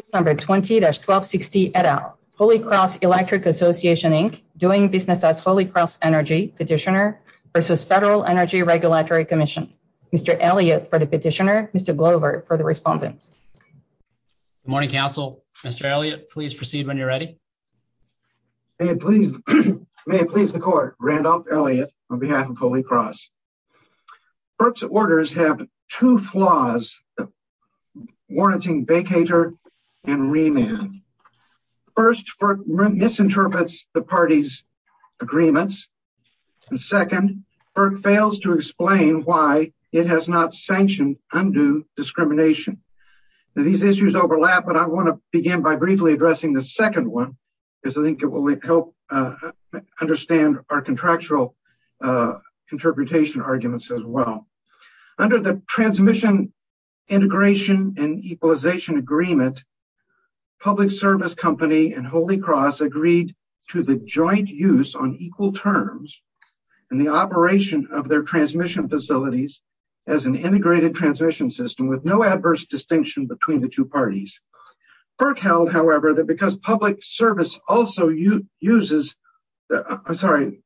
20-1260 et al. Holy Cross Electric Association, Inc. doing business as Holy Cross Energy Petitioner versus Federal Energy Regulatory Commission. Mr. Elliott for the Petitioner. Mr. Glovert for the Respondent. Good morning, Council. Mr. Elliott, please proceed when you're ready. May it please the Court. Randolph Elliott on behalf of Holy Cross. FERC's orders have two flaws warranting vacatur and remand. First, FERC misinterprets the party's agreements. Second, FERC fails to explain why it has not sanctioned undue discrimination. These issues overlap, but I want to begin by briefly addressing the second one because I think it will help understand our contractual interpretation arguments as well. Under the Transmission Integration and Equalization Agreement, Public Service Company and Holy Cross agreed to the joint use on equal terms and the operation of their transmission facilities as an integrated transmission system with no adverse distinction between the two parties. FERC held, however, that because Public Service also uses Holy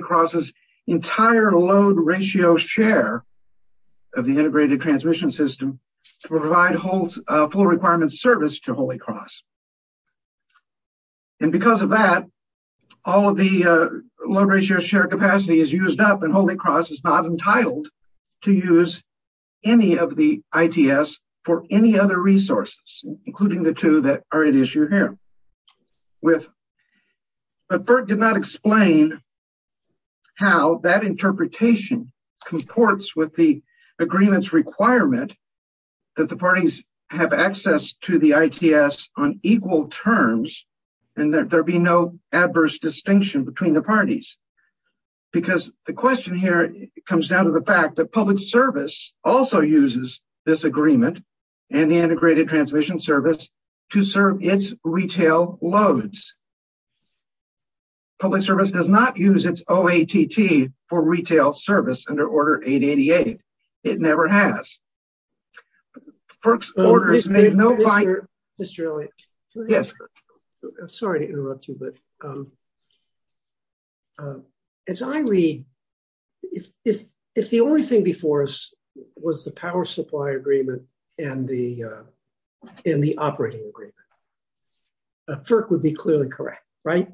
Cross's entire load ratio share of the integrated transmission system to provide full requirements service to Holy Cross. Because of that, all of the load ratio share capacity is used up and Holy Cross is not entitled to use any of the ITS for any other resources, including the two that are at issue here. But FERC did not explain how that interpretation comports with the agreement's requirement that the parties have access to the ITS on equal terms and that there be no adverse distinction between the parties. Because the question here comes down to the fact that Public Service also uses this agreement and the Integrated Transmission Service to serve its retail loads. Public Service does not use its OATT for retail service under Order 888. It never has. But FERC's orders made no... Mr. Elliott, I'm sorry to interrupt you, but as I read, if the only thing before us was the power supply agreement and the operating agreement, FERC would be clearly correct, right?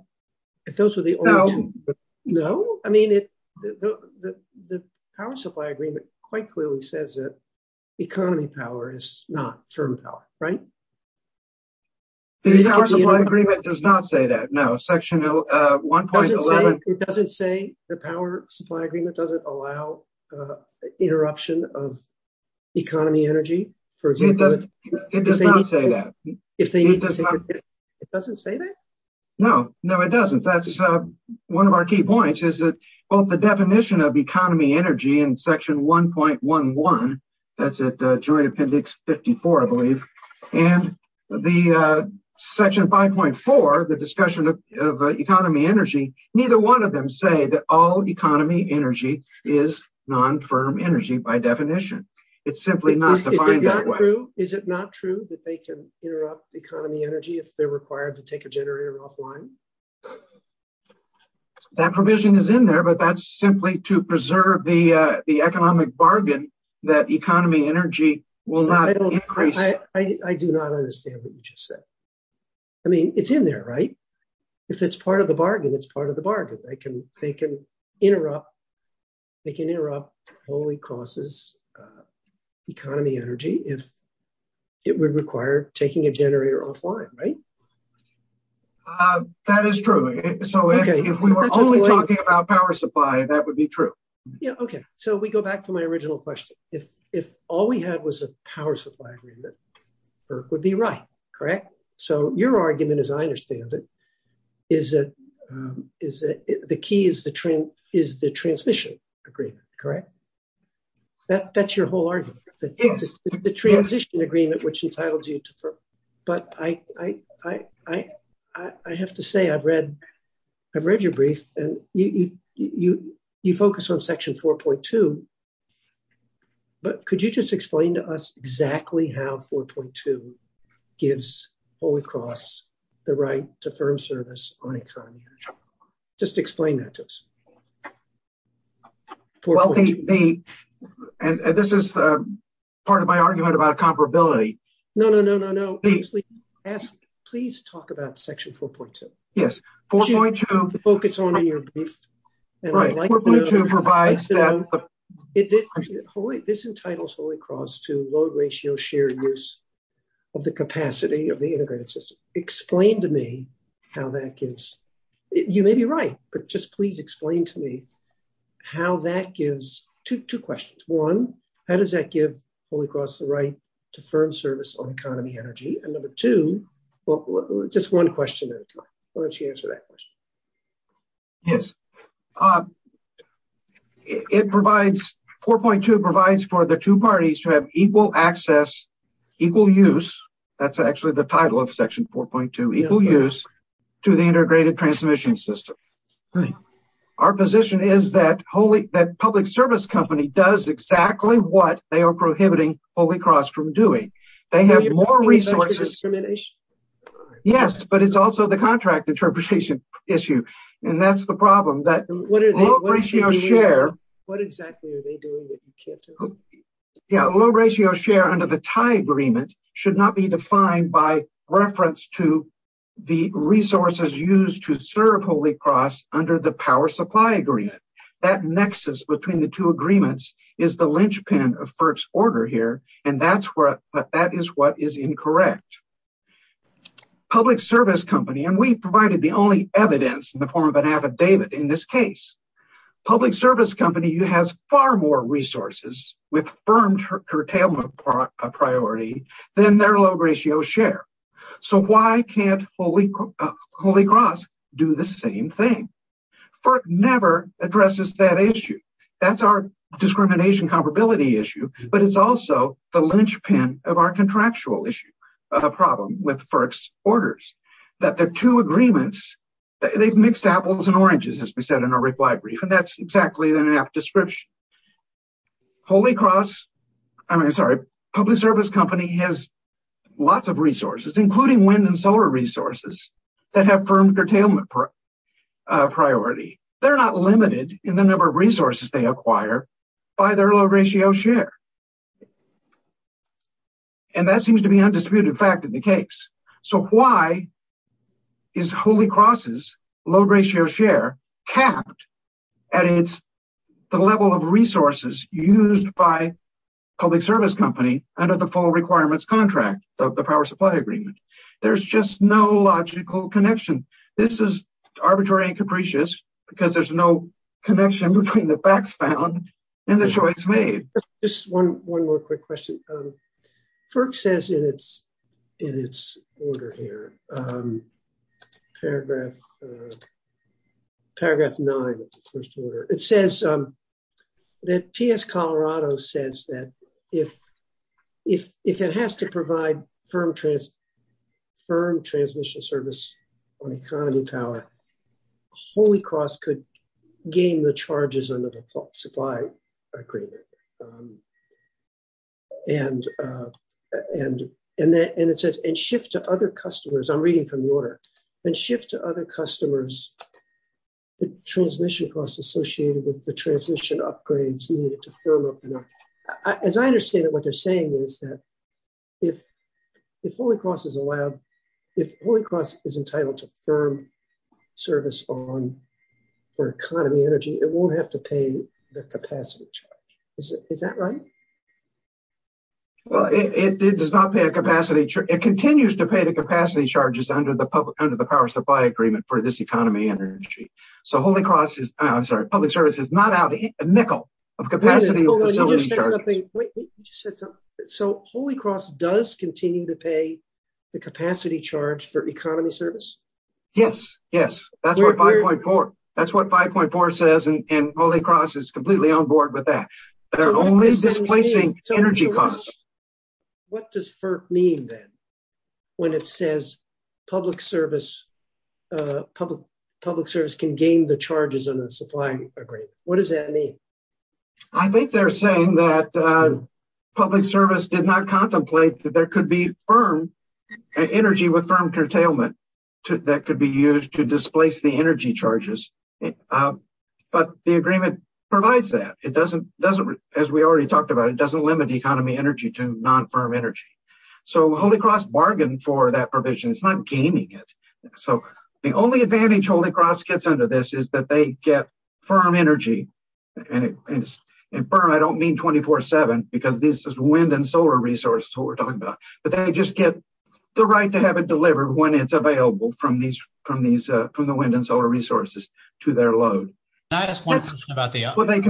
If those were the only two... No. I mean, the power supply agreement quite clearly says that economy power is not term power, right? The power supply agreement does not say that, no. Section 1.11... It doesn't say the power supply agreement doesn't allow interruption of economy energy, for example? It does not say that. It doesn't say that? No. No, it doesn't. That's one of our key points is that both the definition of economy energy in Section 1.11, that's at Joint Appendix 54, I believe, and Section 5.4, the discussion of economy energy, neither one of them say that all economy energy is non-firm energy by definition. It's simply not defined that way. Is it not true that they can interrupt economy energy if they're required to take a generator offline? That provision is in there, but that's simply to preserve the economic bargain that economy energy will not increase... I do not understand what you just said. I mean, it's in there, right? If it's part of the bargain, it's part of the bargain. They can interrupt Holy Cross's economy energy if it would require taking a generator offline, right? That is true. If we were only talking about power supply, that would be true. Yeah, okay. We go back to my original question. If all we had was a power supply agreement, FERC would be right, correct? Your argument, as I understand it, the key is the transmission agreement, correct? That's your whole argument. The transition agreement, which entitles you to FERC, but I have to say I've read your brief, and you focus on section 4.2, but could you just explain to us exactly how 4.2 gives Holy Cross the right to firm service on economy energy? Just explain that to us. This is part of my argument about comparability. No, no, no, no, no. Please talk about section 4.2. 4.2 provides that- This entitles Holy Cross to low ratio shared use of the capacity of the integrated system. Explain to me how that gives... You may be right, but just please explain to me how that gives... Two questions. One, how does that give Holy Cross the right to firm service on economy energy? Number two, just one question at a time. Why don't you answer that question? It provides... 4.2 provides for the two parties to have equal access, equal use, that's actually the title of section 4.2, equal use to the integrated transmission system. Our position is that public service company does exactly what they are prohibiting Holy Cross from doing. They have more resources. Yes, but it's also the contract interpretation issue. And that's the problem that low ratio share... What exactly are they doing that you can't tell me? Yeah, low ratio share under the tie agreement should not be defined by reference to the resources used to serve Holy Cross under the power supply agreement. That nexus between the agreements is the linchpin of FERC's order here, and that is what is incorrect. Public service company, and we provided the only evidence in the form of an affidavit in this case, public service company has far more resources with firm curtailment priority than their low ratio share. So why can't Holy Cross do the same thing? FERC never addresses that issue. That's our discrimination comparability issue, but it's also the linchpin of our contractual issue, a problem with FERC's orders, that the two agreements, they've mixed apples and oranges, as we said in our reply brief, and that's exactly the description. Holy Cross, I mean, sorry, public service company has lots of resources, including wind and solar resources that have firm curtailment priority. They're not limited in the number of resources they acquire by their low ratio share, and that seems to be undisputed fact in the case. So why is Holy Cross's low ratio share capped at the level of resources used by public service company under the full requirements contract of the power supply agreement? There's just no logical connection. This is arbitrary and capricious because there's no connection between the facts found and the choice made. Just one more quick question. FERC says in its order here, paragraph nine of the first order, it says that PS Colorado says that if it has to provide firm transmission service on economy power, Holy Cross could gain the charges under the supply agreement. And it says, and shift to other customers, I'm reading from the order, and shift to other customers, the transmission costs associated with the transmission upgrades needed to firm up. As I understand it, what they're saying is that if Holy Cross is allowed, if Holy Cross is entitled to firm service on for economy energy, it won't have to pay the capacity charge. Is that right? Well, it does not pay a capacity. It continues to pay capacity charges under the public, under the power supply agreement for this economy energy. So Holy Cross is, I'm sorry, public service is not out a nickel of capacity. So Holy Cross does continue to pay the capacity charge for economy service? Yes. Yes. That's what 5.4, that's what 5.4 says. And Holy Cross is completely on board with that. They're only public service can gain the charges under the supply agreement. What does that mean? I think they're saying that public service did not contemplate that there could be firm energy with firm curtailment that could be used to displace the energy charges. But the agreement provides that. It doesn't, as we already talked about, it doesn't limit economy energy to non-firm energy. So Holy Cross bargained for that provision. It's not gaining it. So the only advantage Holy Cross gets under this is that they get firm energy. And firm, I don't mean 24-7 because this is wind and solar resources, what we're talking about, but they just get the right to have it delivered when it's available from the wind and solar resources to their load. Can I ask one question about the operating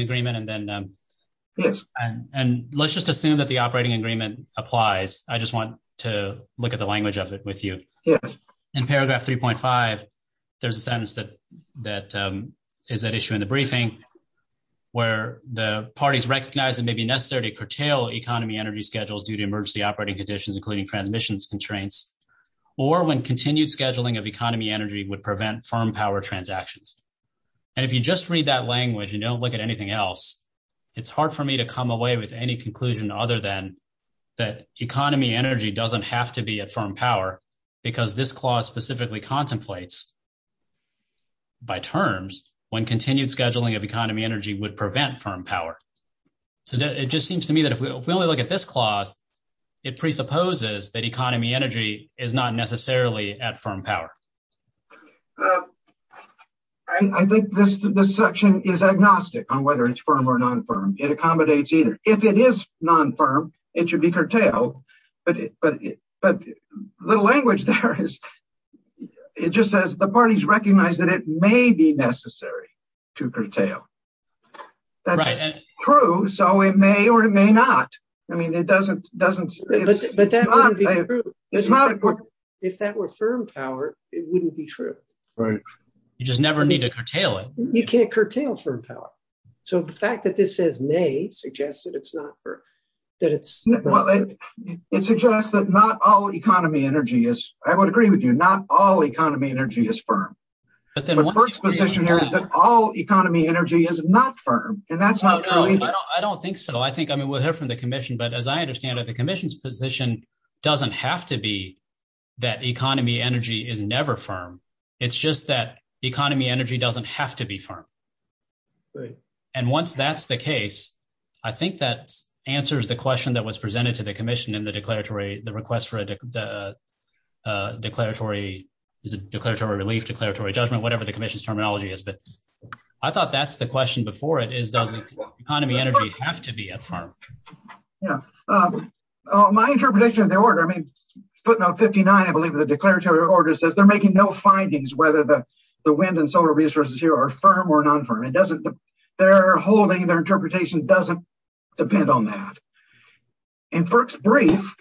agreement and then and let's just assume that the operating agreement applies. I just want to look at the language of it with you. In paragraph 3.5, there's a sentence that is at issue in the briefing where the parties recognize it may be necessary to curtail economy energy schedules due to emergency operating conditions, including transmissions constraints, or when continued scheduling of economy energy would prevent firm power transactions. And if you just read that it's hard for me to come away with any conclusion other than that economy energy doesn't have to be at firm power because this clause specifically contemplates by terms when continued scheduling of economy energy would prevent firm power. So it just seems to me that if we only look at this clause, it presupposes that economy energy is not necessarily at firm power. I think this section is agnostic on whether it's firm or non-firm. It accommodates either. If it is non-firm, it should be curtailed, but the language there is it just says the parties recognize that it may be necessary to curtail. That's true, so it may or it may not. If that were firm power, it wouldn't be true. You just never need to curtail it. You can't curtail firm power. So the fact that this says may suggests that it's not firm. It suggests that not all economy energy is, I would agree with you, not all economy energy is firm. But Burke's position here is that all economy energy is not firm. I don't think so. I think, I mean, we'll hear from the commission, but as I understand it, the commission's position doesn't have to be that economy energy is never firm. It's just that economy energy doesn't have to be firm. And once that's the case, I think that answers the question that was presented to the commission in the declaratory, the request for a declaratory, is it declaratory relief, declaratory judgment, whatever the commission's terminology is. But I thought that's the question before it is, does economy energy have to be a firm? Yeah. My interpretation of the order, I mean, footnote 59, I believe the declaratory order says they're making no findings whether the wind and solar resources here are firm or non-firm. Their holding, their interpretation doesn't depend on that. And Burke's brief,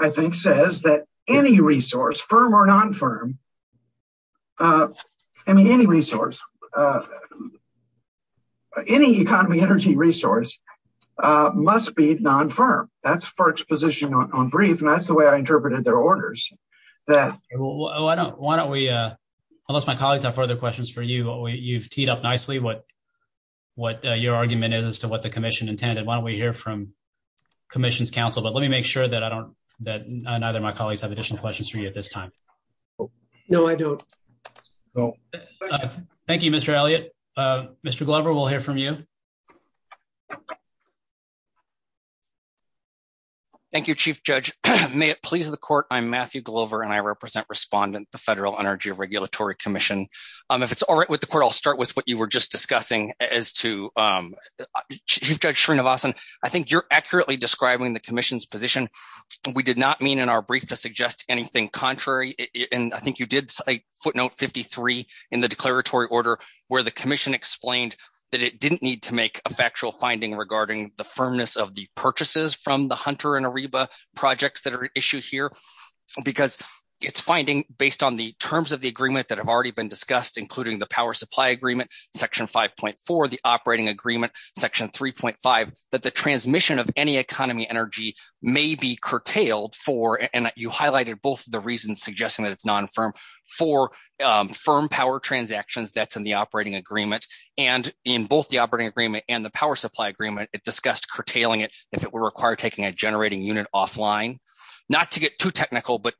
I think, says that any resource, firm or non-firm, I mean, any resource, any economy energy resource must be non-firm. That's Burke's position on brief. And that's the way I interpreted their orders. Unless my colleagues have further questions for you, you've teed up nicely what your argument is as to what the commission intended. Why don't we hear from commission's counsel? But let me make sure that I don't, that neither of my colleagues have additional questions for you at this time. No, I don't. Thank you, Mr. Elliott. Mr. Glover, we'll hear from you. Thank you, Chief Judge. May it please the court, I'm Matthew Glover and I represent respondent, Federal Energy Regulatory Commission. If it's all right with the court, I'll start with what you were just discussing as to Chief Judge Srinivasan. I think you're accurately describing the commission's position. We did not mean in our brief to suggest anything contrary. And I think you did say footnote 53 in the declaratory order where the commission explained that it didn't need to make a factual finding regarding the firmness of the purchases from the Hunter and Ariba projects that are issued here. Because it's finding based on the terms of the agreement that have already been discussed, including the power supply agreement, section 5.4, the operating agreement, section 3.5, that the transmission of any economy energy may be curtailed for, and you highlighted both the reasons suggesting that it's non-firm, for firm power transactions that's in the operating agreement. And in both the operating agreement and the power supply agreement, it discussed curtailing it if it were required taking a generating unit offline. Not to get too technical, but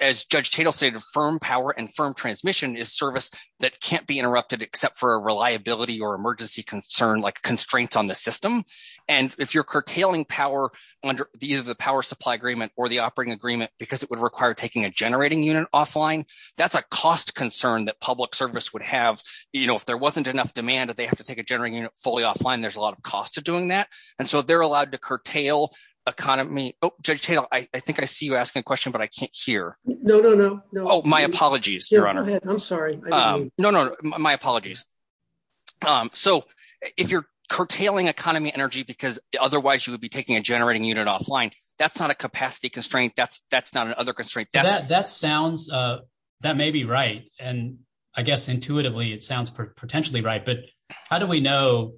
as Judge Tatel stated, firm power and firm transmission is service that can't be interrupted except for a reliability or emergency concern like constraints on the system. And if you're curtailing power under either the power supply agreement or the operating agreement, because it would require taking a generating unit offline, that's a cost concern that public service would have, you know, wasn't enough demand that they have to take a generating unit fully offline, there's a lot of cost to doing that. And so they're allowed to curtail economy. Oh, Judge Tatel, I think I see you asking a question, but I can't hear. No, no, no. Oh, my apologies, Your Honor. I'm sorry. No, no, my apologies. So if you're curtailing economy energy because otherwise you would be taking a generating unit offline, that's not a capacity constraint. That's not an other constraint. That sounds, that may be right. And I guess intuitively it sounds potentially right. But how do we know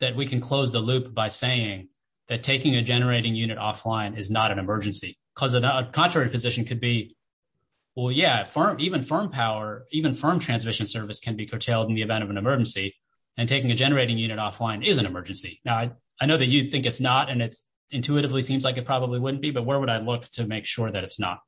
that we can close the loop by saying that taking a generating unit offline is not an emergency? Because a contrary position could be, well, yeah, firm, even firm power, even firm transmission service can be curtailed in the event of an emergency. And taking a generating unit offline is an emergency. Now, I know that you think it's not, and it's intuitively seems like it probably wouldn't be, but where would I look to make that it's not?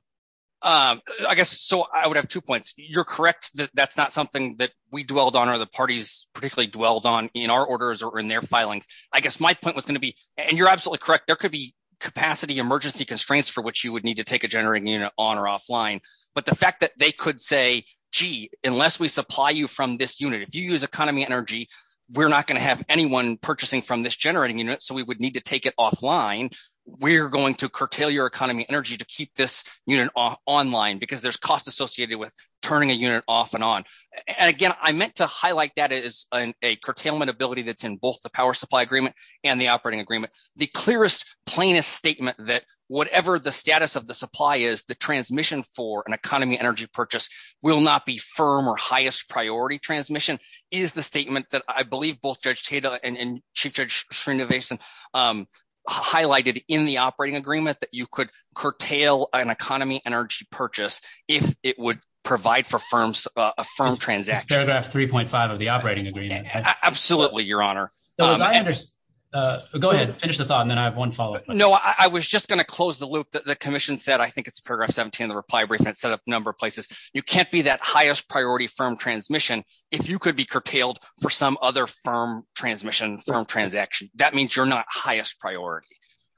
I guess, so I would have two points. You're correct that that's not something that we dwelled on or the parties particularly dwelled on in our orders or in their filings. I guess my point was going to be, and you're absolutely correct, there could be capacity emergency constraints for which you would need to take a generating unit on or offline. But the fact that they could say, gee, unless we supply you from this unit, if you use economy energy, we're not going to have anyone purchasing from this generating unit. So we would need to this unit online because there's costs associated with turning a unit off and on. And again, I meant to highlight that as a curtailment ability that's in both the power supply agreement and the operating agreement. The clearest, plainest statement that whatever the status of the supply is, the transmission for an economy energy purchase will not be firm or highest priority transmission is the statement that I believe both Judge Tatel and Chief Judge highlighted in the operating agreement that you could curtail an economy energy purchase if it would provide for a firm transaction. Paragraph 3.5 of the operating agreement. Absolutely, Your Honor. Go ahead, finish the thought and then I have one follow-up. No, I was just going to close the loop that the commission said. I think it's paragraph 17 of the reply brief and it's set up a number of places. You can't be that highest priority firm transmission if you could be curtailed for some other firm transmission, that means you're not highest priority.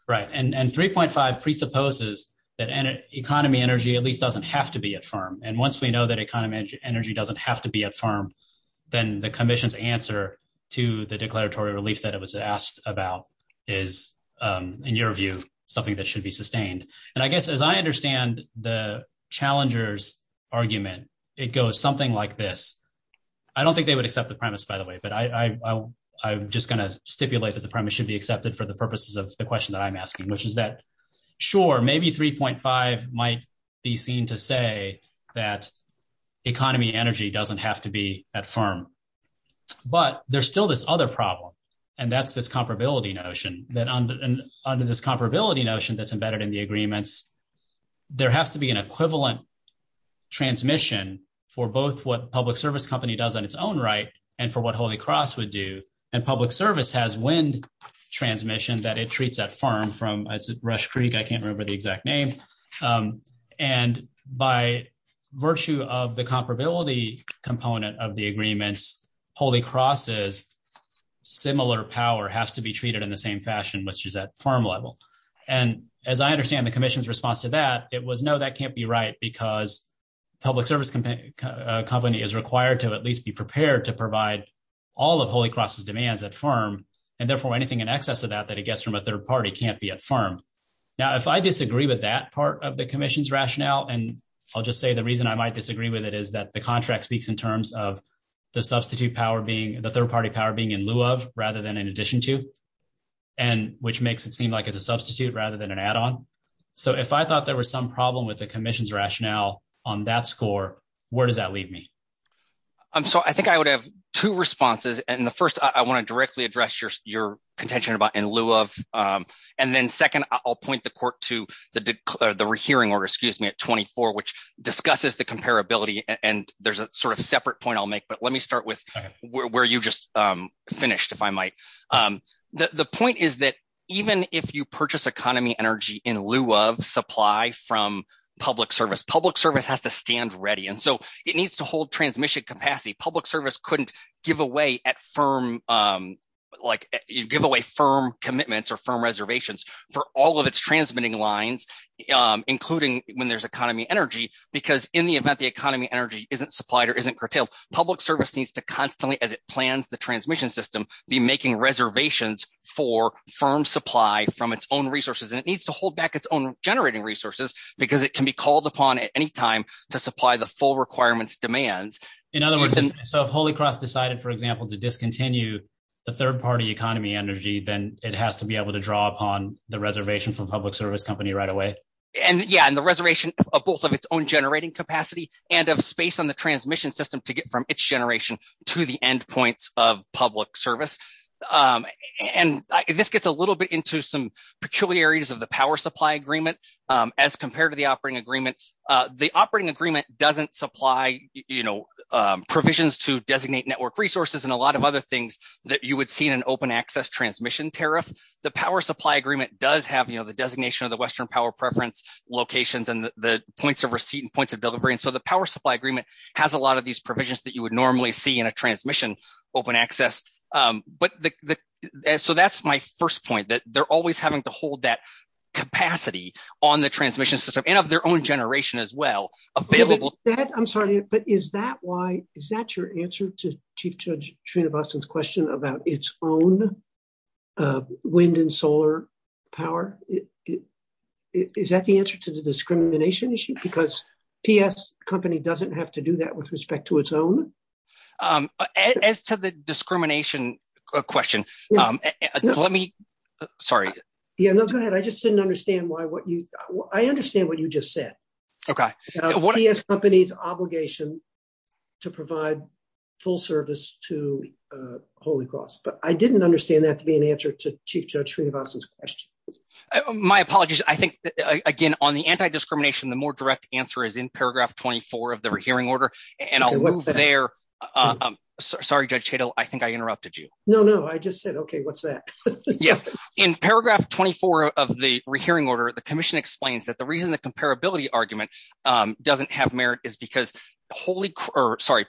Right, and 3.5 presupposes that economy energy at least doesn't have to be at firm. And once we know that economy energy doesn't have to be at firm, then the commission's answer to the declaratory relief that it was asked about is, in your view, something that should be sustained. And I guess as I understand the challenger's argument, it goes something like this. I don't think they would accept the premise, by the way, but I'm going to stipulate that the premise should be accepted for the purposes of the question that I'm asking, which is that, sure, maybe 3.5 might be seen to say that economy energy doesn't have to be at firm. But there's still this other problem, and that's this comparability notion that under this comparability notion that's embedded in the agreements, there has to be an equivalent transmission for both what public service company does on its own right and for what Holy Cross would do. And public service has wind transmission that it treats at firm from Rush Creek. I can't remember the exact name. And by virtue of the comparability component of the agreements, Holy Cross's similar power has to be treated in the same fashion, which is at firm level. And as I understand the commission's response to that, it was no, that can't be right because public service company is required to at least be prepared to provide all of Holy Cross's demands at firm, and therefore anything in excess of that that it gets from a third party can't be at firm. Now, if I disagree with that part of the commission's rationale, and I'll just say the reason I might disagree with it is that the contract speaks in terms of the substitute power being the third party power being in lieu of rather than in addition to, and which makes it seem like it's a substitute rather than an add-on. So if I thought there was some problem with the commission's rationale on that score, where does that leave me? So I think I would have two responses. And the first, I want to directly address your contention about in lieu of. And then second, I'll point the court to the hearing order, excuse me, at 24, which discusses the comparability. And there's a sort of separate point I'll make. But let me start with where you just finished, if I might. The point is that even if you purchase economy energy in lieu of supply from public service, public service has to stand ready. And so it needs to hold transmission capacity. Public service couldn't give away firm commitments or firm reservations for all of its transmitting lines, including when there's economy energy, because in the event the economy energy isn't supplied or isn't curtailed, public service needs to constantly, as it plans the transmission system, be making reservations for firm supply from its own resources. And it needs to hold back its own generating resources because it can be called upon at any time to supply the full requirements demands. In other words, so if Holy Cross decided, for example, to discontinue the third party economy energy, then it has to be able to draw upon the reservation from public service company right away. And yeah, and the reservation of both of its own generating capacity and of space on to get from its generation to the end points of public service. And this gets a little bit into some peculiarities of the power supply agreement as compared to the operating agreement. The operating agreement doesn't supply provisions to designate network resources and a lot of other things that you would see in an open access transmission tariff. The power supply agreement does have the designation of the Western Power Preference locations and the points of receipt and points of delivery. And so the power supply agreement has a lot of these provisions that you would normally see in a transmission open access. So that's my first point, that they're always having to hold that capacity on the transmission system and of their own generation as well. I'm sorry, but is that your answer to Chief Judge Srinivasan's question about its own wind and solar power? Is that the answer to the discrimination issue? Because PS company doesn't have to do that with respect to its own? As to the discrimination question, let me... Sorry. Yeah, no, go ahead. I just didn't understand why what you... I understand what you just said. Okay. PS company's obligation to provide full service to Holy Cross, but I didn't understand that to be an answer to Chief Judge Srinivasan's question. My apologies. I think, again, on the anti-discrimination, the more direct answer is in paragraph 24 of the rehearing order. And I'll move there. Sorry, Judge Cheadle, I think I interrupted you. No, no. I just said, okay, what's that? Yes. In paragraph 24 of the rehearing order, the commission explains that the reason the comparability argument doesn't have merit is because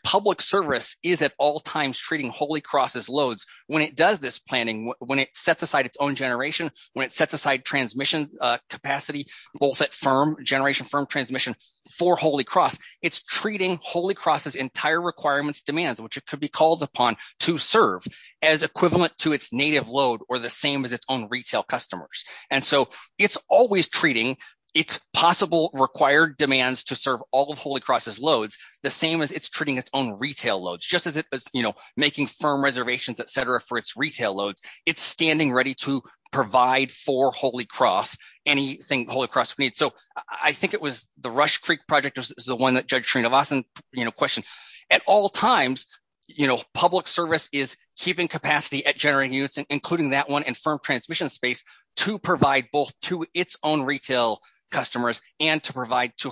public service is at all times treating Holy Cross's loads. When it does this planning, when it sets aside its own generation, when it sets aside transmission capacity, both at generation from transmission for Holy Cross, it's treating Holy Cross's entire requirements demands, which it could be called upon to serve as equivalent to its native load or the same as its own retail customers. And so it's always treating its possible required demands to serve all of Holy Cross's loads, the same as it's treating its own retail loads, just as it was making firm reservations, et cetera, for its retail loads. It's standing ready to provide for Holy Cross anything Holy Cross needs. So I think it was the Rush Creek project is the one that Judge Srinivasan questioned. At all times, public service is keeping capacity at generating units, including that one, and firm transmission space to provide both to its own retail customers and to provide to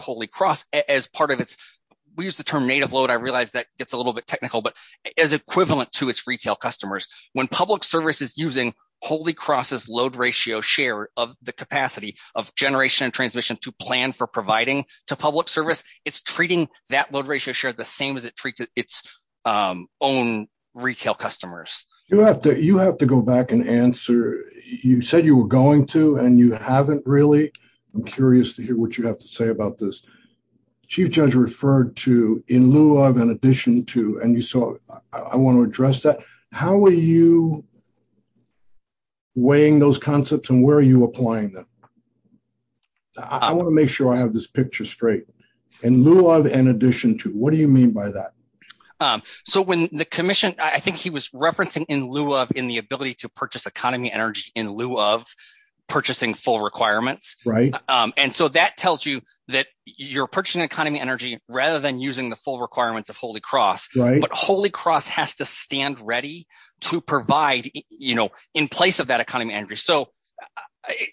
native load. I realized that it's a little bit technical, but as equivalent to its retail customers. When public service is using Holy Cross's load ratio share of the capacity of generation and transmission to plan for providing to public service, it's treating that load ratio share the same as it treats its own retail customers. You have to go back and answer. You said you were going to, and you haven't really. I'm curious to hear what you have to in lieu of, in addition to, and you saw, I want to address that. How are you weighing those concepts and where are you applying them? I want to make sure I have this picture straight. In lieu of, in addition to, what do you mean by that? So when the commission, I think he was referencing in lieu of, in the ability to purchase economy energy in lieu of purchasing full requirements. Right. And so that tells you that you're purchasing economy energy rather than using the full requirements of Holy Cross, but Holy Cross has to stand ready to provide, you know, in place of that economy energy. So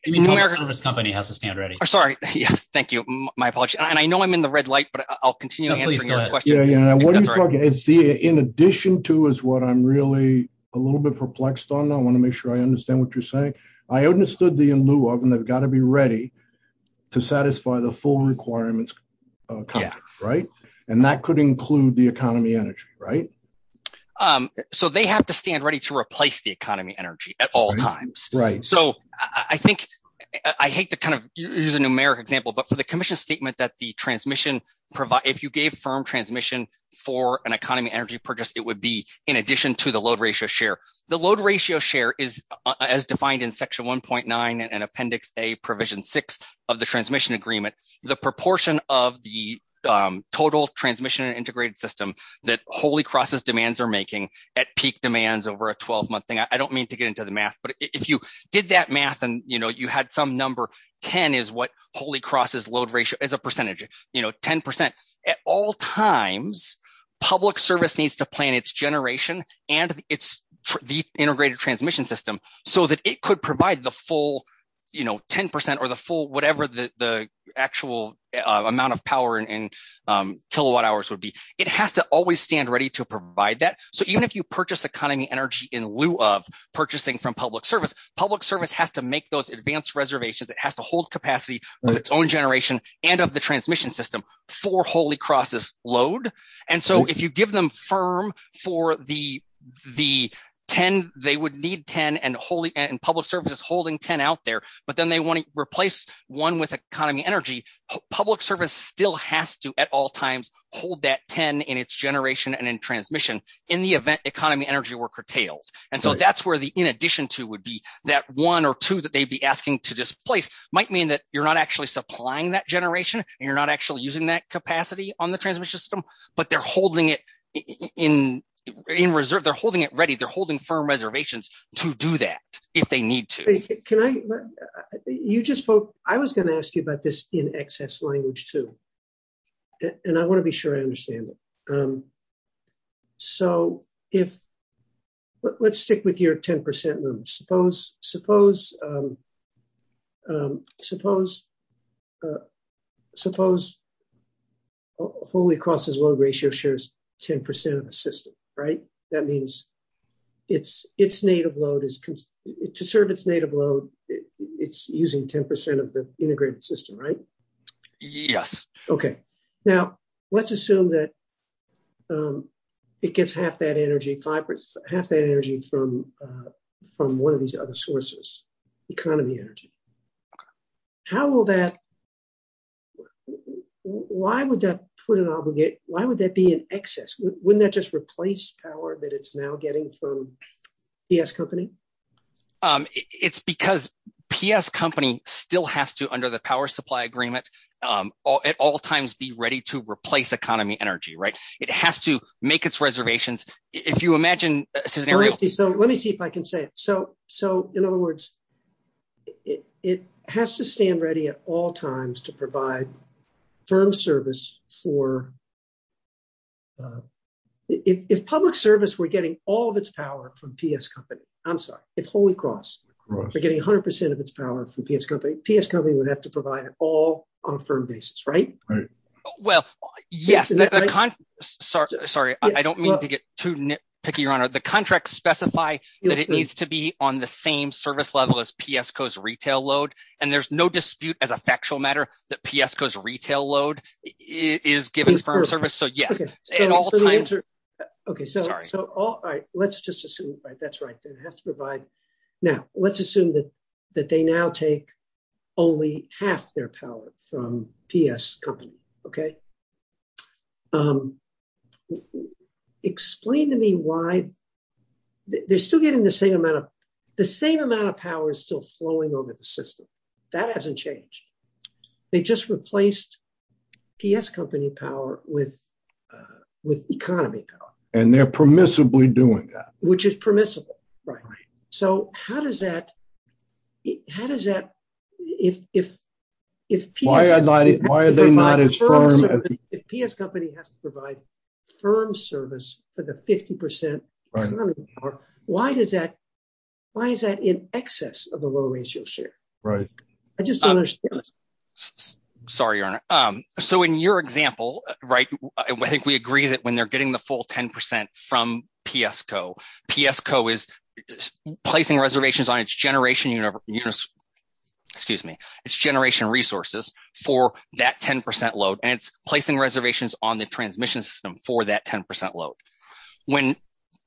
the public service company has to stand ready. I'm sorry. Yes. Thank you. My apologies. And I know I'm in the red light, but I'll continue answering your question. In addition to is what I'm really a little bit perplexed on. I want to make sure I understand what you're saying. I understood the in lieu of, and they've got to be to satisfy the full requirements, right? And that could include the economy energy, right? So they have to stand ready to replace the economy energy at all times. Right. So I think I hate to kind of use a numeric example, but for the commission statement that the transmission provide, if you gave firm transmission for an economy energy purchase, it would be in addition to the load ratio share. The load ratio share is as defined in section 1.9 and 6 of the transmission agreement, the proportion of the total transmission integrated system that Holy Cross's demands are making at peak demands over a 12 month thing. I don't mean to get into the math, but if you did that math and you had some number 10 is what Holy Cross's load ratio is a percentage, you know, 10% at all times, public service needs to plan its generation and it's the integrated transmission system so that it could provide the full, you know, 10% or the full, whatever the actual amount of power in kilowatt hours would be. It has to always stand ready to provide that. So even if you purchase economy energy in lieu of purchasing from public service, public service has to make those advanced reservations. It has to hold capacity of its own generation and of the transmission system for Holy Cross's load. And so if you give them firm for the 10, they would need 10 and public service is holding 10 out there, but then they want to replace one with economy energy. Public service still has to at all times hold that 10 in its generation and in transmission in the event economy energy were curtailed. And so that's where the in addition to would be that one or two that they'd be asking to displace might mean that you're not actually supplying that generation and you're not actually using that capacity on the transmission system, but they're holding it in reserve. They're holding it ready. They're holding firm reservations to do that if they need to. Can I, you just, I was going to ask you about this in excess language too, and I want to be sure I understand it. So if let's stick with your 10% limit, suppose, suppose, suppose, suppose Holy Cross's load ratio shares 10% of the system, right? That means it's, it's native load is to serve its native load. It's using 10% of the integrated system, right? Yes. Okay. Now let's assume that it gets half that energy fibers, half that energy from from one of these other sources, economy energy. How will that, why would that put an obligate? Why would that be an excess? Wouldn't that just replace power that it's now getting from PS company? It's because PS company still has to, under the power supply agreement, at all times be ready to replace economy energy, right? It has to make its reservations. If you imagine a scenario. So let me see if I can say it. So, so in other words, it has to stand ready at all times to provide firm service for, if public service, we're getting all of its power from PS company, I'm sorry, if Holy Cross, we're getting a hundred percent of its power from PS company, PS company would have to provide all on a firm basis, right? Well, yes. Sorry. Sorry. I don't mean to get too picky. Your honor, the contract specify that it needs to be on the same service level as PS co's retail load. And there's no dispute as a factual matter that PS co's retail load is given firm service. So yes. Okay. So, so all right. Let's just assume, right. That's right. It has to provide. Now let's assume that, that they now take only half their power from PS company. Okay. Explain to me why they're still getting the same amount of, the same amount of power is still flowing over the system that hasn't changed. They just replaced PS company power with, with economy power. And they're permissibly doing that. Which is permissible. Right. So how does that, how does that, if, if, if PS company has to provide firm service for the 50% power, why does that, why is that in excess of a low ratio share? Right. I just don't understand. Sorry, your honor. So in your example, right. I think we agree that when they're getting the full 10% from PS co PS co is placing reservations on its generation. Excuse me. It's generation resources for that 10% load. And it's placing reservations on the transmission system for that 10% load. When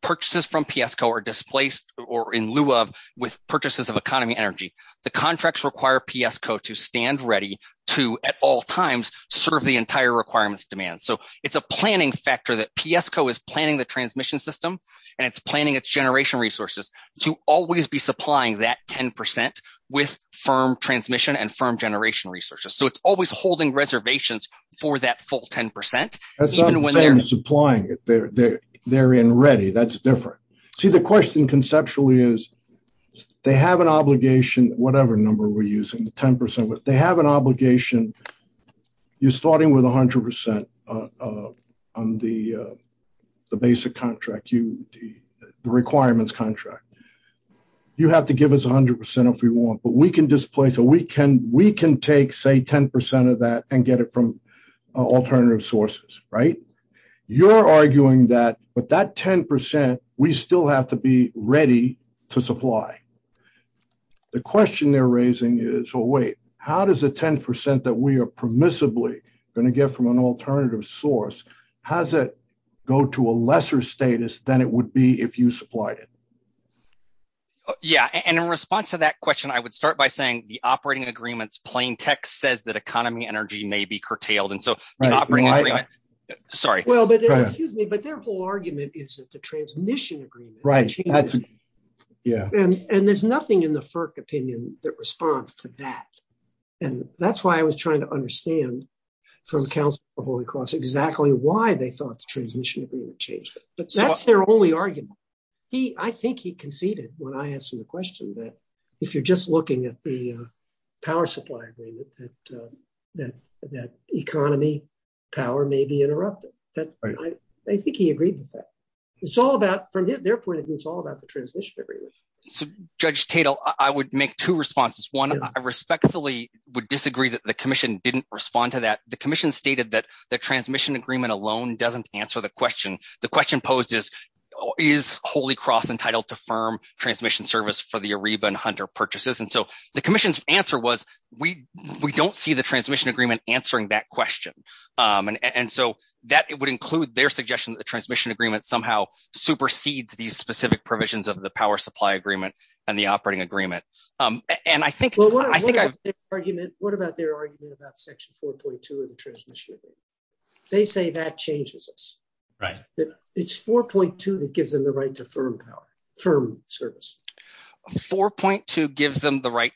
purchases from PS co are displaced or in lieu of with purchases of economy energy, the contracts require PS co to stand ready to at all times serve the entire requirements demand. So it's a planning factor that PS co is planning the transmission system and it's planning its generation resources to always be supplying that 10% with firm transmission and firm generation resources. So it's always holding reservations for that full 10%. Even when they're supplying it, they're, they're, they're in ready. That's different. See the question conceptually is they have an obligation, whatever number we're using the 10% with, they have an obligation. You're starting with a hundred percent on the, the basic contract. You, the requirements contract, you have to give us a hundred percent if we want, but we can display. So we can, we can take say 10% of that and get it from alternative sources, right? You're arguing that, but that 10%, we still have to be ready to supply. The question they're raising is, well, wait, how does the 10% that we are permissibly going to get from an alternative source? How's that go to a lesser status than it would be if you supplied it? Yeah. And in response to that question, I would start by saying the operating agreements, plain text says that economy energy may be curtailed. And so the operating agreement, sorry. Well, but excuse me, but their whole argument is that the transmission agreement. Right. And there's nothing in the FERC opinion that responds to that. And that's why I was trying to understand from council of Holy Cross exactly why they thought the transmission agreement changed, but that's their only argument. He, I think he conceded when I asked him the question, that if you're just looking at the power supply agreement, that, that, that economy, power may be interrupted. I think he agreed with that. It's all about from their point of view, it's all about the transmission agreement. So Judge Tatel, I would make two responses. One, I respectfully would disagree that the commission didn't respond to that. The commission stated that the transmission agreement alone doesn't answer the question. The question posed is, is Holy Cross entitled to firm transmission service for the Ariba and Hunter purchases? And so the commission's answer was, we, we don't see the transmission agreement answering that question. And, and so that it would include their suggestion that the transmission agreement somehow supersedes these specific provisions of the power supply agreement and the operating agreement. And I think, I think I've, what about their argument about section 4.2 of the gives them the right to firm power, firm service. 4.2 gives them the right.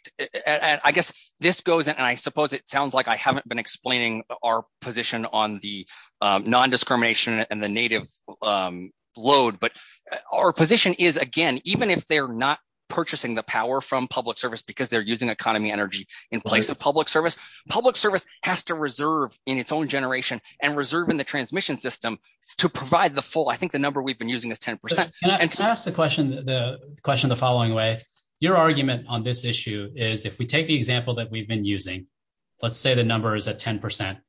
I guess this goes, and I suppose it sounds like I haven't been explaining our position on the non-discrimination and the native load, but our position is again, even if they're not purchasing the power from public service, because they're using economy energy in place of public service, public service has to reserve in its own generation and reserve in the transmission system to provide the full, I think the number we've been using is 10%. Can I ask the question, the question, the following way, your argument on this issue is if we take the example that we've been using, let's say the number is at 10%.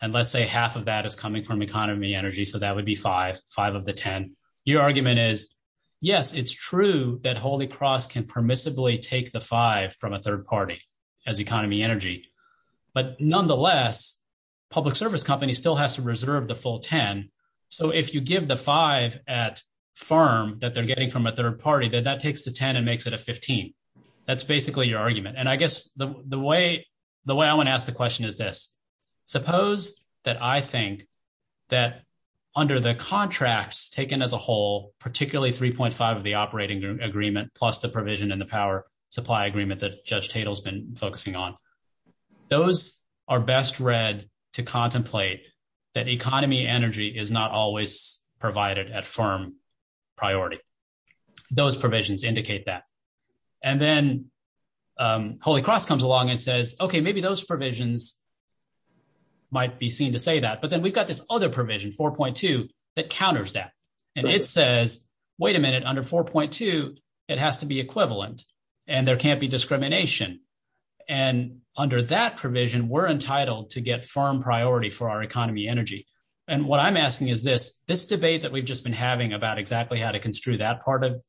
And let's say half of that is coming from economy energy. So that would be five, five of the 10. Your argument is yes, it's true that Holy Cross can permissibly take the five from a third party as economy energy, but nonetheless, public service companies still has to reserve the full 10. So if you give the five at firm that they're getting from a third party, then that takes the 10 and makes it a 15. That's basically your argument. And I guess the, the way, the way I want to ask the question is this, suppose that I think that under the contracts taken as a whole, particularly 3.5 of the operating agreement, plus the provision in the power supply agreement that Judge Tatel has been focusing on, those are best read to contemplate that economy energy is not always provided at firm priority. Those provisions indicate that. And then Holy Cross comes along and says, okay, maybe those provisions might be seen to say that, but then we've got this other provision 4.2 that counters that. And it says, wait a minute under 4.2, it has to be equivalent and there can't be discrimination. And under that provision, we're entitled to get firm priority for our economy energy. And what I'm asking is this, this debate that we've just been having about exactly how to construe that part of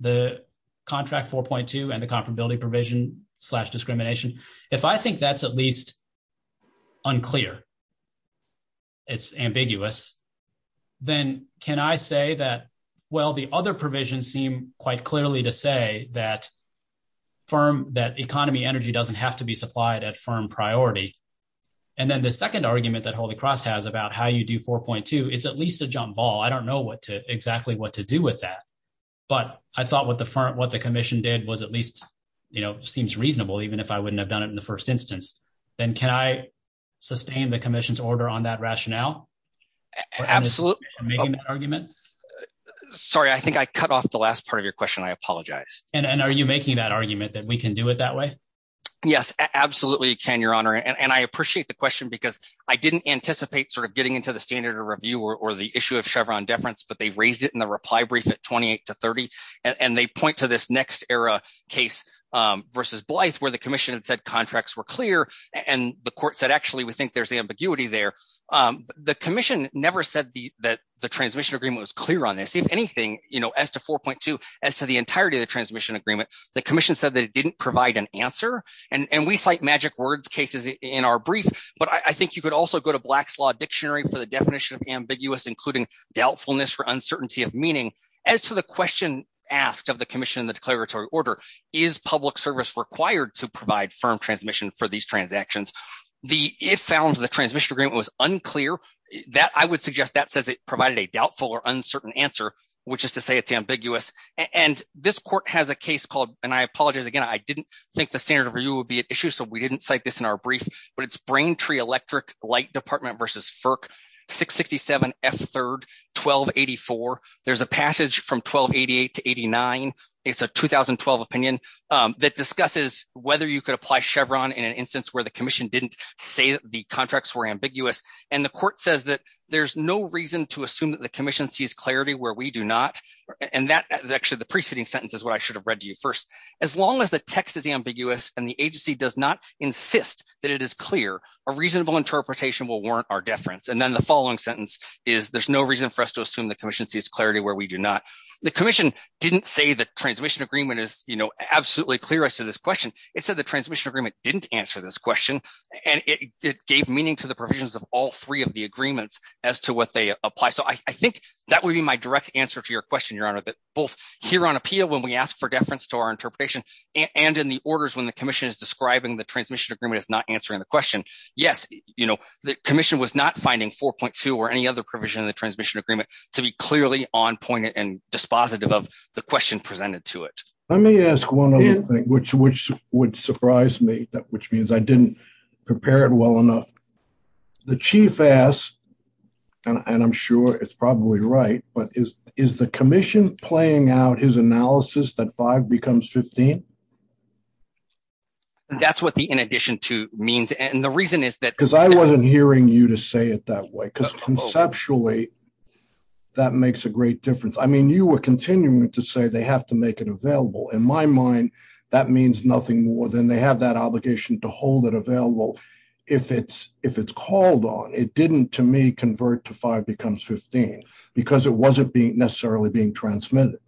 the contract 4.2 and the comparability provision slash discrimination. If I think that's at least unclear, it's ambiguous. Then can I say that, well, the other provisions seem quite clearly to say that firm, that economy energy doesn't have to be supplied at firm priority. And then the second argument that Holy Cross has about how you do 4.2 is at least a jump ball. I don't know what to exactly what to do with that, but I thought what the firm, what the commission did was at least, you know, seems reasonable, even if I wouldn't have done it in the first instance, then can I sustain the commission's order on that rationale? Absolutely. Sorry, I think I cut off the last part of your question. I apologize. And are you making that argument that we can do it that way? Yes, absolutely. Can your honor. And I appreciate the question because I didn't anticipate sort of getting into the standard of review or the issue of Chevron deference, but they raised it in the reply brief at 28 to 30. And they point to this next era case versus Blythe where the commission said contracts were clear. And the court said, actually, we think there's the ambiguity there. The commission never said that the transmission agreement was clear on this, if anything, you know, as to 4.2, as to the entirety of the transmission agreement, the commission said that it didn't provide an answer. And we cite magic words cases in our brief. But I think you could also go to Black's Law Dictionary for the definition of ambiguous, including doubtfulness for uncertainty of meaning. As to the question asked of the commission in the declaratory order, is public service required to provide firm transmission for these transactions? The if found the transmission agreement was unclear that I would suggest that says it provided a doubtful or uncertain answer, which is to say it's ambiguous. And this court has a case called and I apologize, again, I didn't think the standard of review would be an issue. So we didn't cite this in our brief, but it's Braintree electric light department versus FERC 667 F third 1284. There's a passage from 1288 to 89. It's a 2012 opinion that discusses whether you could apply Chevron in an instance where the commission didn't say the contracts were ambiguous. And the court says that there's no reason to assume that the commission sees clarity where we do not. And that actually the preceding sentence is what I should have read to you first. As long as the text is ambiguous, and the agency does not insist that it is clear, a reasonable interpretation will warrant our deference. And then the following sentence is there's no reason for us to assume the commission sees clarity where we do not. The commission didn't say the transmission agreement is, you know, absolutely clear as to this question. It said the transmission agreement didn't answer this question. And it gave meaning to the provisions of all three of the agreements as to what they apply. So I think that would be my direct answer to your question, Your Honor, that both here on appeal, when we ask for deference to our interpretation, and in the orders when the commission is describing the transmission agreement is not answering the question, yes, you know, the commission was not finding 4.2 or any other provision in the transmission agreement to be clearly on point and dispositive of the question presented to it. Let me ask one other thing, which would surprise me that which means I didn't prepare it well enough. The chief ass. And I'm sure it's probably right. But is is the commission playing out his analysis that five becomes 15? That's what the in addition to means. And the reason is that because I wasn't hearing you to say it that way, because conceptually, that makes a great difference. I mean, you were continuing to say they have to make it available. In my mind, that means nothing more than they have that obligation to hold it available. If it's if it's called on it didn't to me convert to five becomes 15. Because it wasn't being necessarily being transmitted.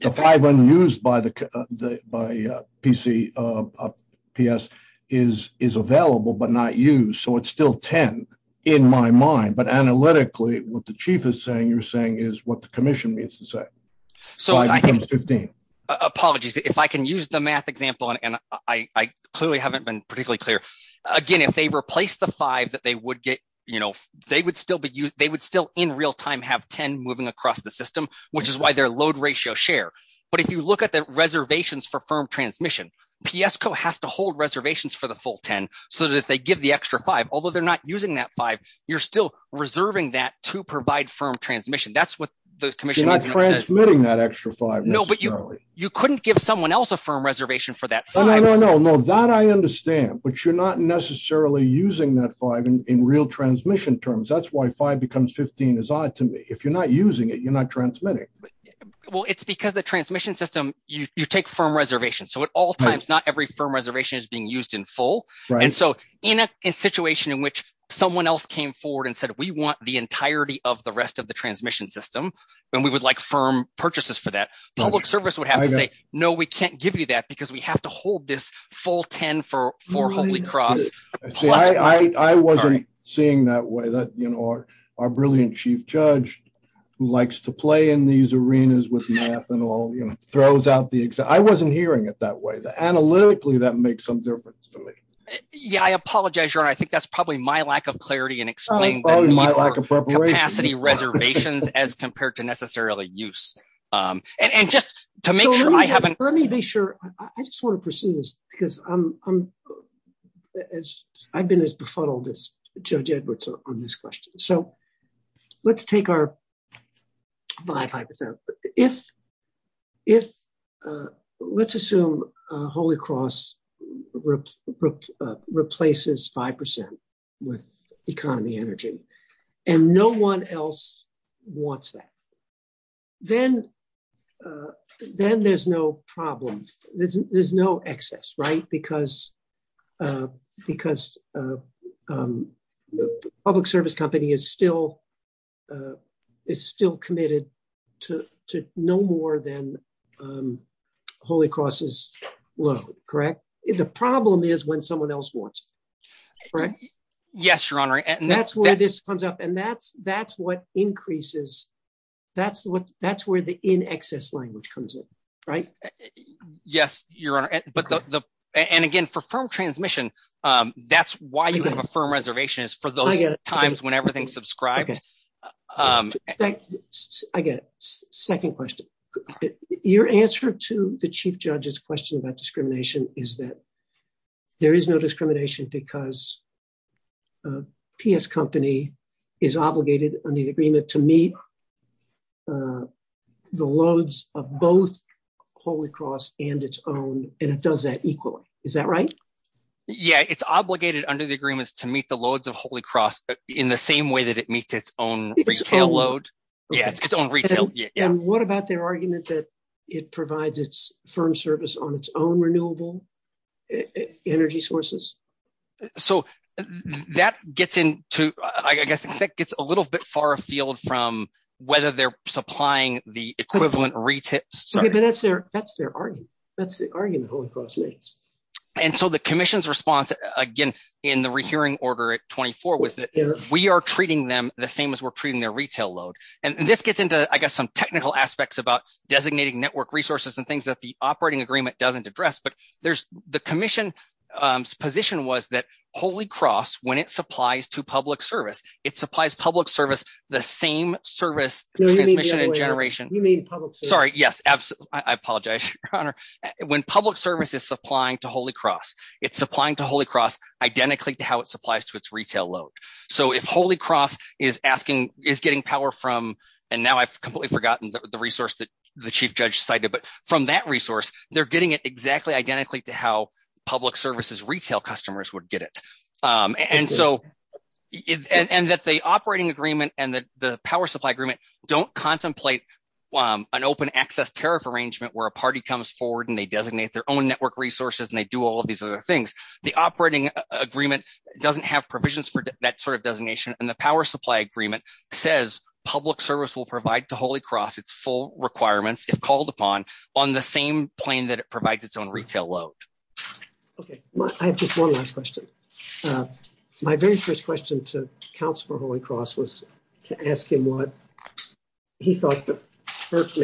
The five unused by the by the PC PS is is available, but not used. So it's still 10. In my mind, but analytically, what the chief is saying you're saying is what the commission needs to say. So I think 15 apologies, if I can use the math example, and I clearly haven't been particularly clear. Again, if they replace the five that they would get, you know, they would still be used, they would still in real time have 10 moving across the system, which is why their load ratio share. But if you look at the reservations for firm transmission, PS co has to hold reservations for the full 10. So that they give the extra five, although they're not using that five, you're still reserving that to provide firm transmission. That's what the commission is transmitting that extra five. No, but you you couldn't give someone else a firm reservation for that. No, no, no, no, no, that I understand. But you're not necessarily using that five in real transmission terms. That's why five becomes 15 is odd to me. If you're not using it, you're transmitting. Well, it's because the transmission system, you take firm reservation. So at all times, not every firm reservation is being used in full. And so in a situation in which someone else came forward and said, we want the entirety of the rest of the transmission system. And we would like firm purchases for that public service would have to say, No, we can't give you that because we have to hold this full 10 for for Holy Cross. I wasn't seeing that way that you know, our brilliant chief judge, who likes to play in these arenas with math and all, you know, throws out the exam. I wasn't hearing it that way that analytically that makes some difference for me. Yeah, I apologize. Sure. I think that's probably my lack of clarity and explain my lack of capacity reservations as compared to necessarily use. And just to make sure I haven't let me be sure. I just want to pursue this because I'm as I've been as befuddled as on this question. So let's take our five hypothetical if, if, let's assume Holy Cross replaces 5% with economy energy, and no one else wants that, then, then there's no problem. There's no excess, right? Because, because public service company is still is still committed to no more than Holy Cross is low, correct? The problem is when someone else wants, right? Yes, Your Honor. And that's where this comes up. And that's, that's what increases. That's what that's where the in excess language comes in. Right? Yes, Your Honor. But the, and again, for firm transmission, that's why you have a firm reservation is for those times when everything subscribes. I get it. Second question. Your answer to the chief judge's question about discrimination is that there is no discrimination because PS company is obligated on the agreement to meet the loads of both Holy Cross and its own, and it does that equally. Is that right? Yeah, it's obligated under the agreements to meet the loads of Holy Cross in the same way that it meets its own retail load. Yeah, it's its own retail. And what about their argument that it provides its firm service on its own renewable energy sources? So that gets into, I guess, that gets a little bit far afield from whether they're supplying the equivalent retail. But that's their, that's their argument. That's the argument Holy Cross makes. And so the commission's response, again, in the rehearing order at 24 was that we are treating them the same as we're treating their retail load. And this gets into, I guess, some technical aspects about designating network resources and things that the operating agreement doesn't address. But there's the commission's position was that Holy Cross, when it supplies to public service, it supplies public service, the same service transmission and generation. Sorry. Yes, absolutely. I apologize, Your Honor. When public service is supplying to Holy Cross, it's supplying to Holy Cross identically to how it supplies to its retail load. So if Holy Cross is asking, is getting power from, and now I've completely forgotten the resource that the chief judge cited, but from that resource, they're getting it exactly identically to how public services retail customers would get it. And so, and that the operating agreement and the power supply agreement don't contemplate an open access tariff arrangement where a party comes forward and they designate their own network resources and they do all of these other things. The operating agreement doesn't have provisions for that sort of designation. And the power is called upon on the same plane that it provides its own retail load. Okay. I have just one last question. My very first question to counsel for Holy Cross was to ask him what he thought the first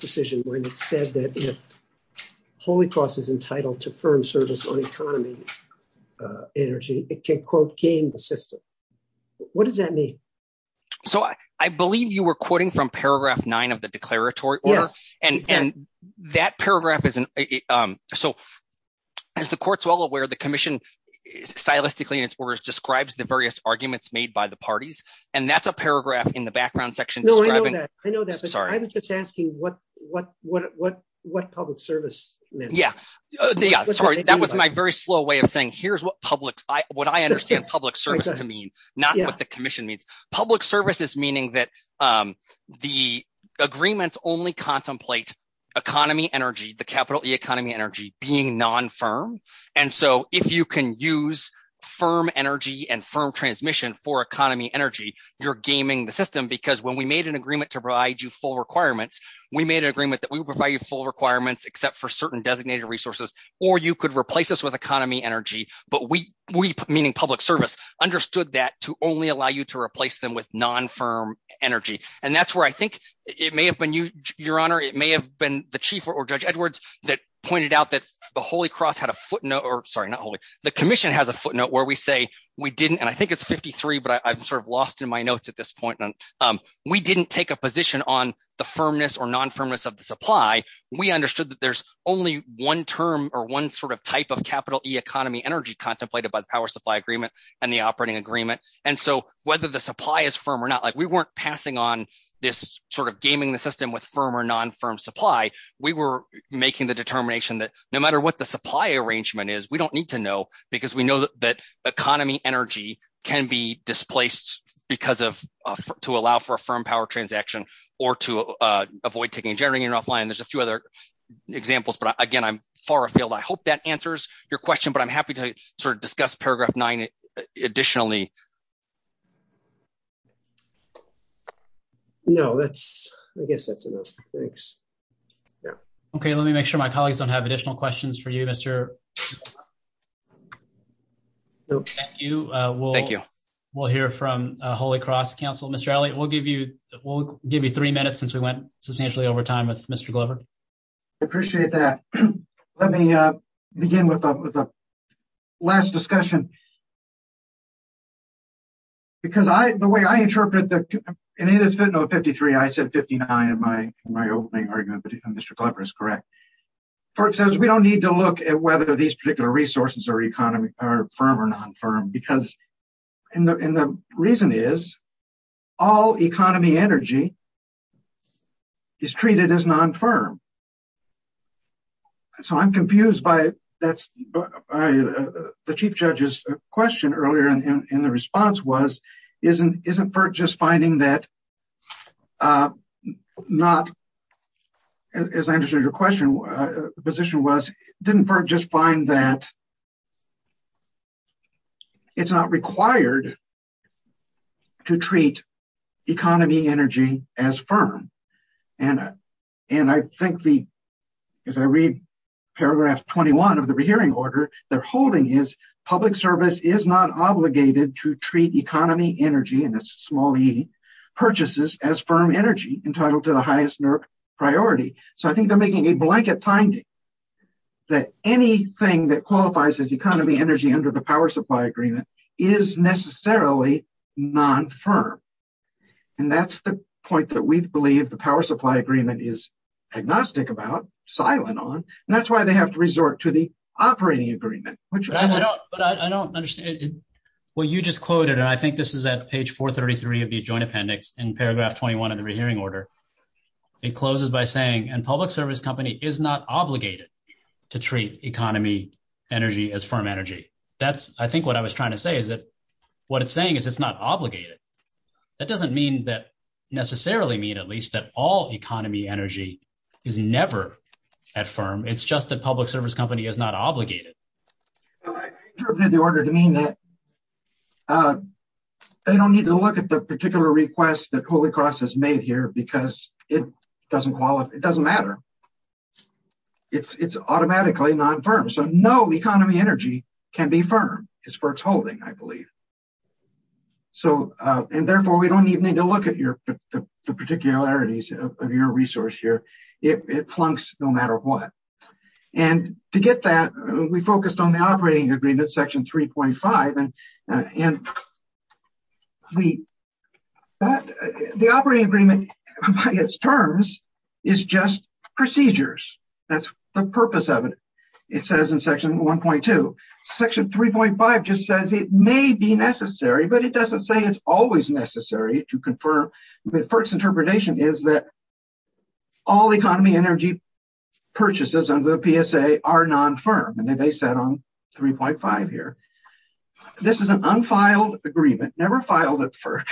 decision when it said that if Holy Cross is entitled to firm service on economy energy, it can quote gain the system. What does that mean? So I believe you were quoting from paragraph nine of the declaratory order and that paragraph is, so as the court's well aware, the commission stylistically in its orders describes the various arguments made by the parties. And that's a paragraph in the background section. No, I know that. I know that, but I'm just asking what public service meant. Yeah. Sorry. That was my very slow way of saying, here's what public, what I understand public service to mean, not what the commission means. Public service is meaning that the agreements only contemplate economy energy, the capital E economy energy being non-firm. And so if you can use firm energy and firm transmission for economy energy, you're gaming the system because when we made an agreement to provide you full requirements, we made an agreement that we would provide you full requirements except for certain designated resources, or you could replace us with economy energy. But we, we meaning public service understood that to only allow you to replace them with non-firm energy. And that's where I think it may have been you, your honor. It may have been the chief or judge Edwards that pointed out that the Holy cross had a footnote or sorry, not Holy. The commission has a footnote where we say we didn't, and I think it's 53, but I've sort of lost in my notes at this point. And we didn't take a position on the firmness or non-firmness of the supply. We understood that there's only one term or one sort of type of capital E economy energy contemplated by the power supply agreement and the operating agreement. And so whether the supply is firm or not, like we weren't passing on this sort of gaming the system with firm or non-firm supply. We were making the determination that no matter what the supply arrangement is, we don't need to know because we know that economy energy can be displaced because of, to allow for a firm power transaction or to avoid taking generating and offline. There's a few other examples, but again, I'm far afield. I hope that answers your question, but I'm happy to sort of discuss paragraph nine additionally. No, that's, I guess that's enough. Thanks. Yeah. Okay. Let me make sure my colleagues don't have additional questions for you, Mr. Thank you. We'll hear from a Holy cross council. Mr. Ali, we'll give you, we'll give you three minutes since we went substantially over time with Mr. Glover. I appreciate that. Let me begin with the last discussion because I, the way I interpret that, and it is good. No 53. I said 59 in my, in my opening argument, but Mr. Glover is correct. For instance, we don't need to look at whether these particular resources are economic or firm or non-firm because in the, in the reason is all economy energy is treated as non-firm. So I'm confused by that's the chief judge's earlier in the response was, isn't, isn't just finding that not as I understood your question position was didn't just find that it's not required to treat economy energy as firm. And, and I think the, as I read paragraph 21 of the rehearing order they're holding is public service is not obligated to treat economy energy. And it's a small E purchases as firm energy entitled to the highest priority. So I think they're making a blanket finding that anything that qualifies as economy energy under the power supply agreement is necessarily non-firm. And that's the point that we've is agnostic about silent on, and that's why they have to resort to the operating agreement, which Well, you just quoted, and I think this is at page 433 of the joint appendix in paragraph 21 of the rehearing order, it closes by saying, and public service company is not obligated to treat economy energy as firm energy. That's, I think what I was trying to say is that what it's saying is it's not obligated. That doesn't mean that necessarily mean, at least that all economy energy is never at firm. It's just that public service company is not obligated. I interpreted the order to mean that they don't need to look at the particular request that Holy Cross has made here because it doesn't qualify. It doesn't matter. It's, it's automatically non-firm. So no economy energy can be firm as far as holding, I believe. So, and therefore we don't even need to look at your, the particularities of your resource here. It plunks no matter what. And to get that, we focused on the operating agreement, section 3.5, and the operating agreement by its terms is just procedures. That's the purpose of it. It says in section 1.2, section 3.5 just says it may be necessary, but it doesn't say it's always necessary to confirm. But FERC's interpretation is that all economy energy purchases under the PSA are non-firm. And then they set on 3.5 here. This is an unfiled agreement, never filed at FERC.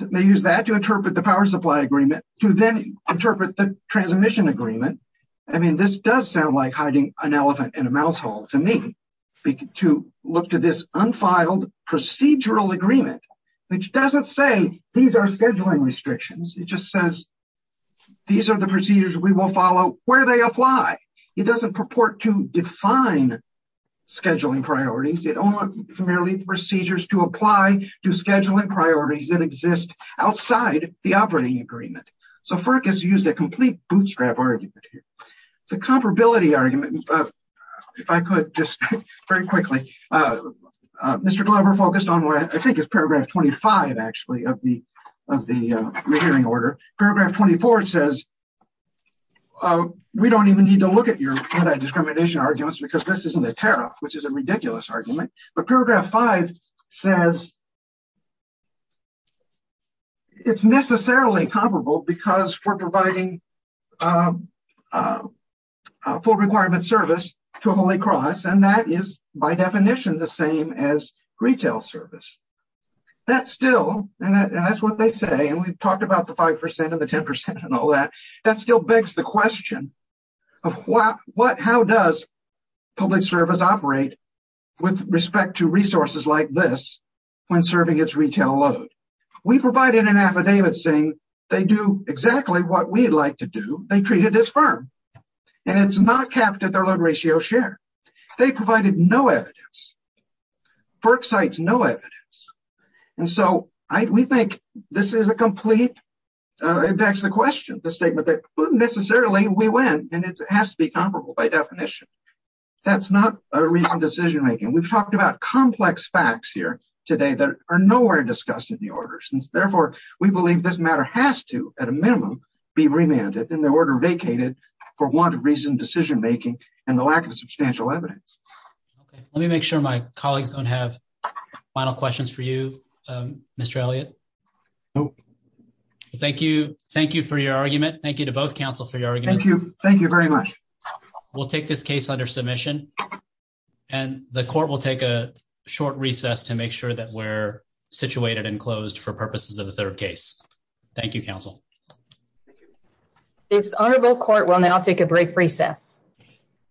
They use that to interpret the power supply agreement to then interpret the transmission agreement. I mean, this does sound like hiding an elephant in a mouse hole to me, to look to this unfiled procedural agreement, which doesn't say these are scheduling restrictions. It just says, these are the procedures we will follow where they apply. It doesn't purport to define scheduling priorities. It only primarily procedures to apply to scheduling priorities that exist outside the operating agreement. So FERC has used a complete bootstrap argument here. The comparability argument, if I could just very quickly, Mr. Glover focused on what I think is paragraph 25, actually, of the of the hearing order. Paragraph 24 says, we don't even need to look at your anti-discrimination arguments because this isn't a tariff, which is a ridiculous argument. But paragraph 5 says it's necessarily comparable because we're providing full requirement service to Holy Cross. And that is, by definition, the same as retail service. That's still, and that's what they say, and we've talked about the 5% and the 10% and all that, that still begs the question of how does public service operate with respect to resources like this when serving its retail load? We provided an affidavit saying they do exactly what we'd like to do. They treat it as firm. And it's not capped at their load ratio share. They provided no evidence. FERC cites no evidence. And so we think this is a complete, it begs the question, the statement that necessarily we win, and it has to be comparable by definition. That's not a recent decision making. We've talked about complex facts here today that are nowhere discussed in the order. Since therefore, we believe this matter has to, at a minimum, be remanded and the order vacated for want of recent decision making and the lack of substantial evidence. Okay. Let me make sure my colleagues don't have final questions for you, Mr. Elliott. Nope. Thank you. Thank you for your argument. Thank you to both counsel for your argument. Thank you. Thank you very much. We'll take this case under submission and the court will take a short recess to make sure that we're situated and closed for purposes of the third case. Thank you, counsel. This honorable court will now take a break for recess.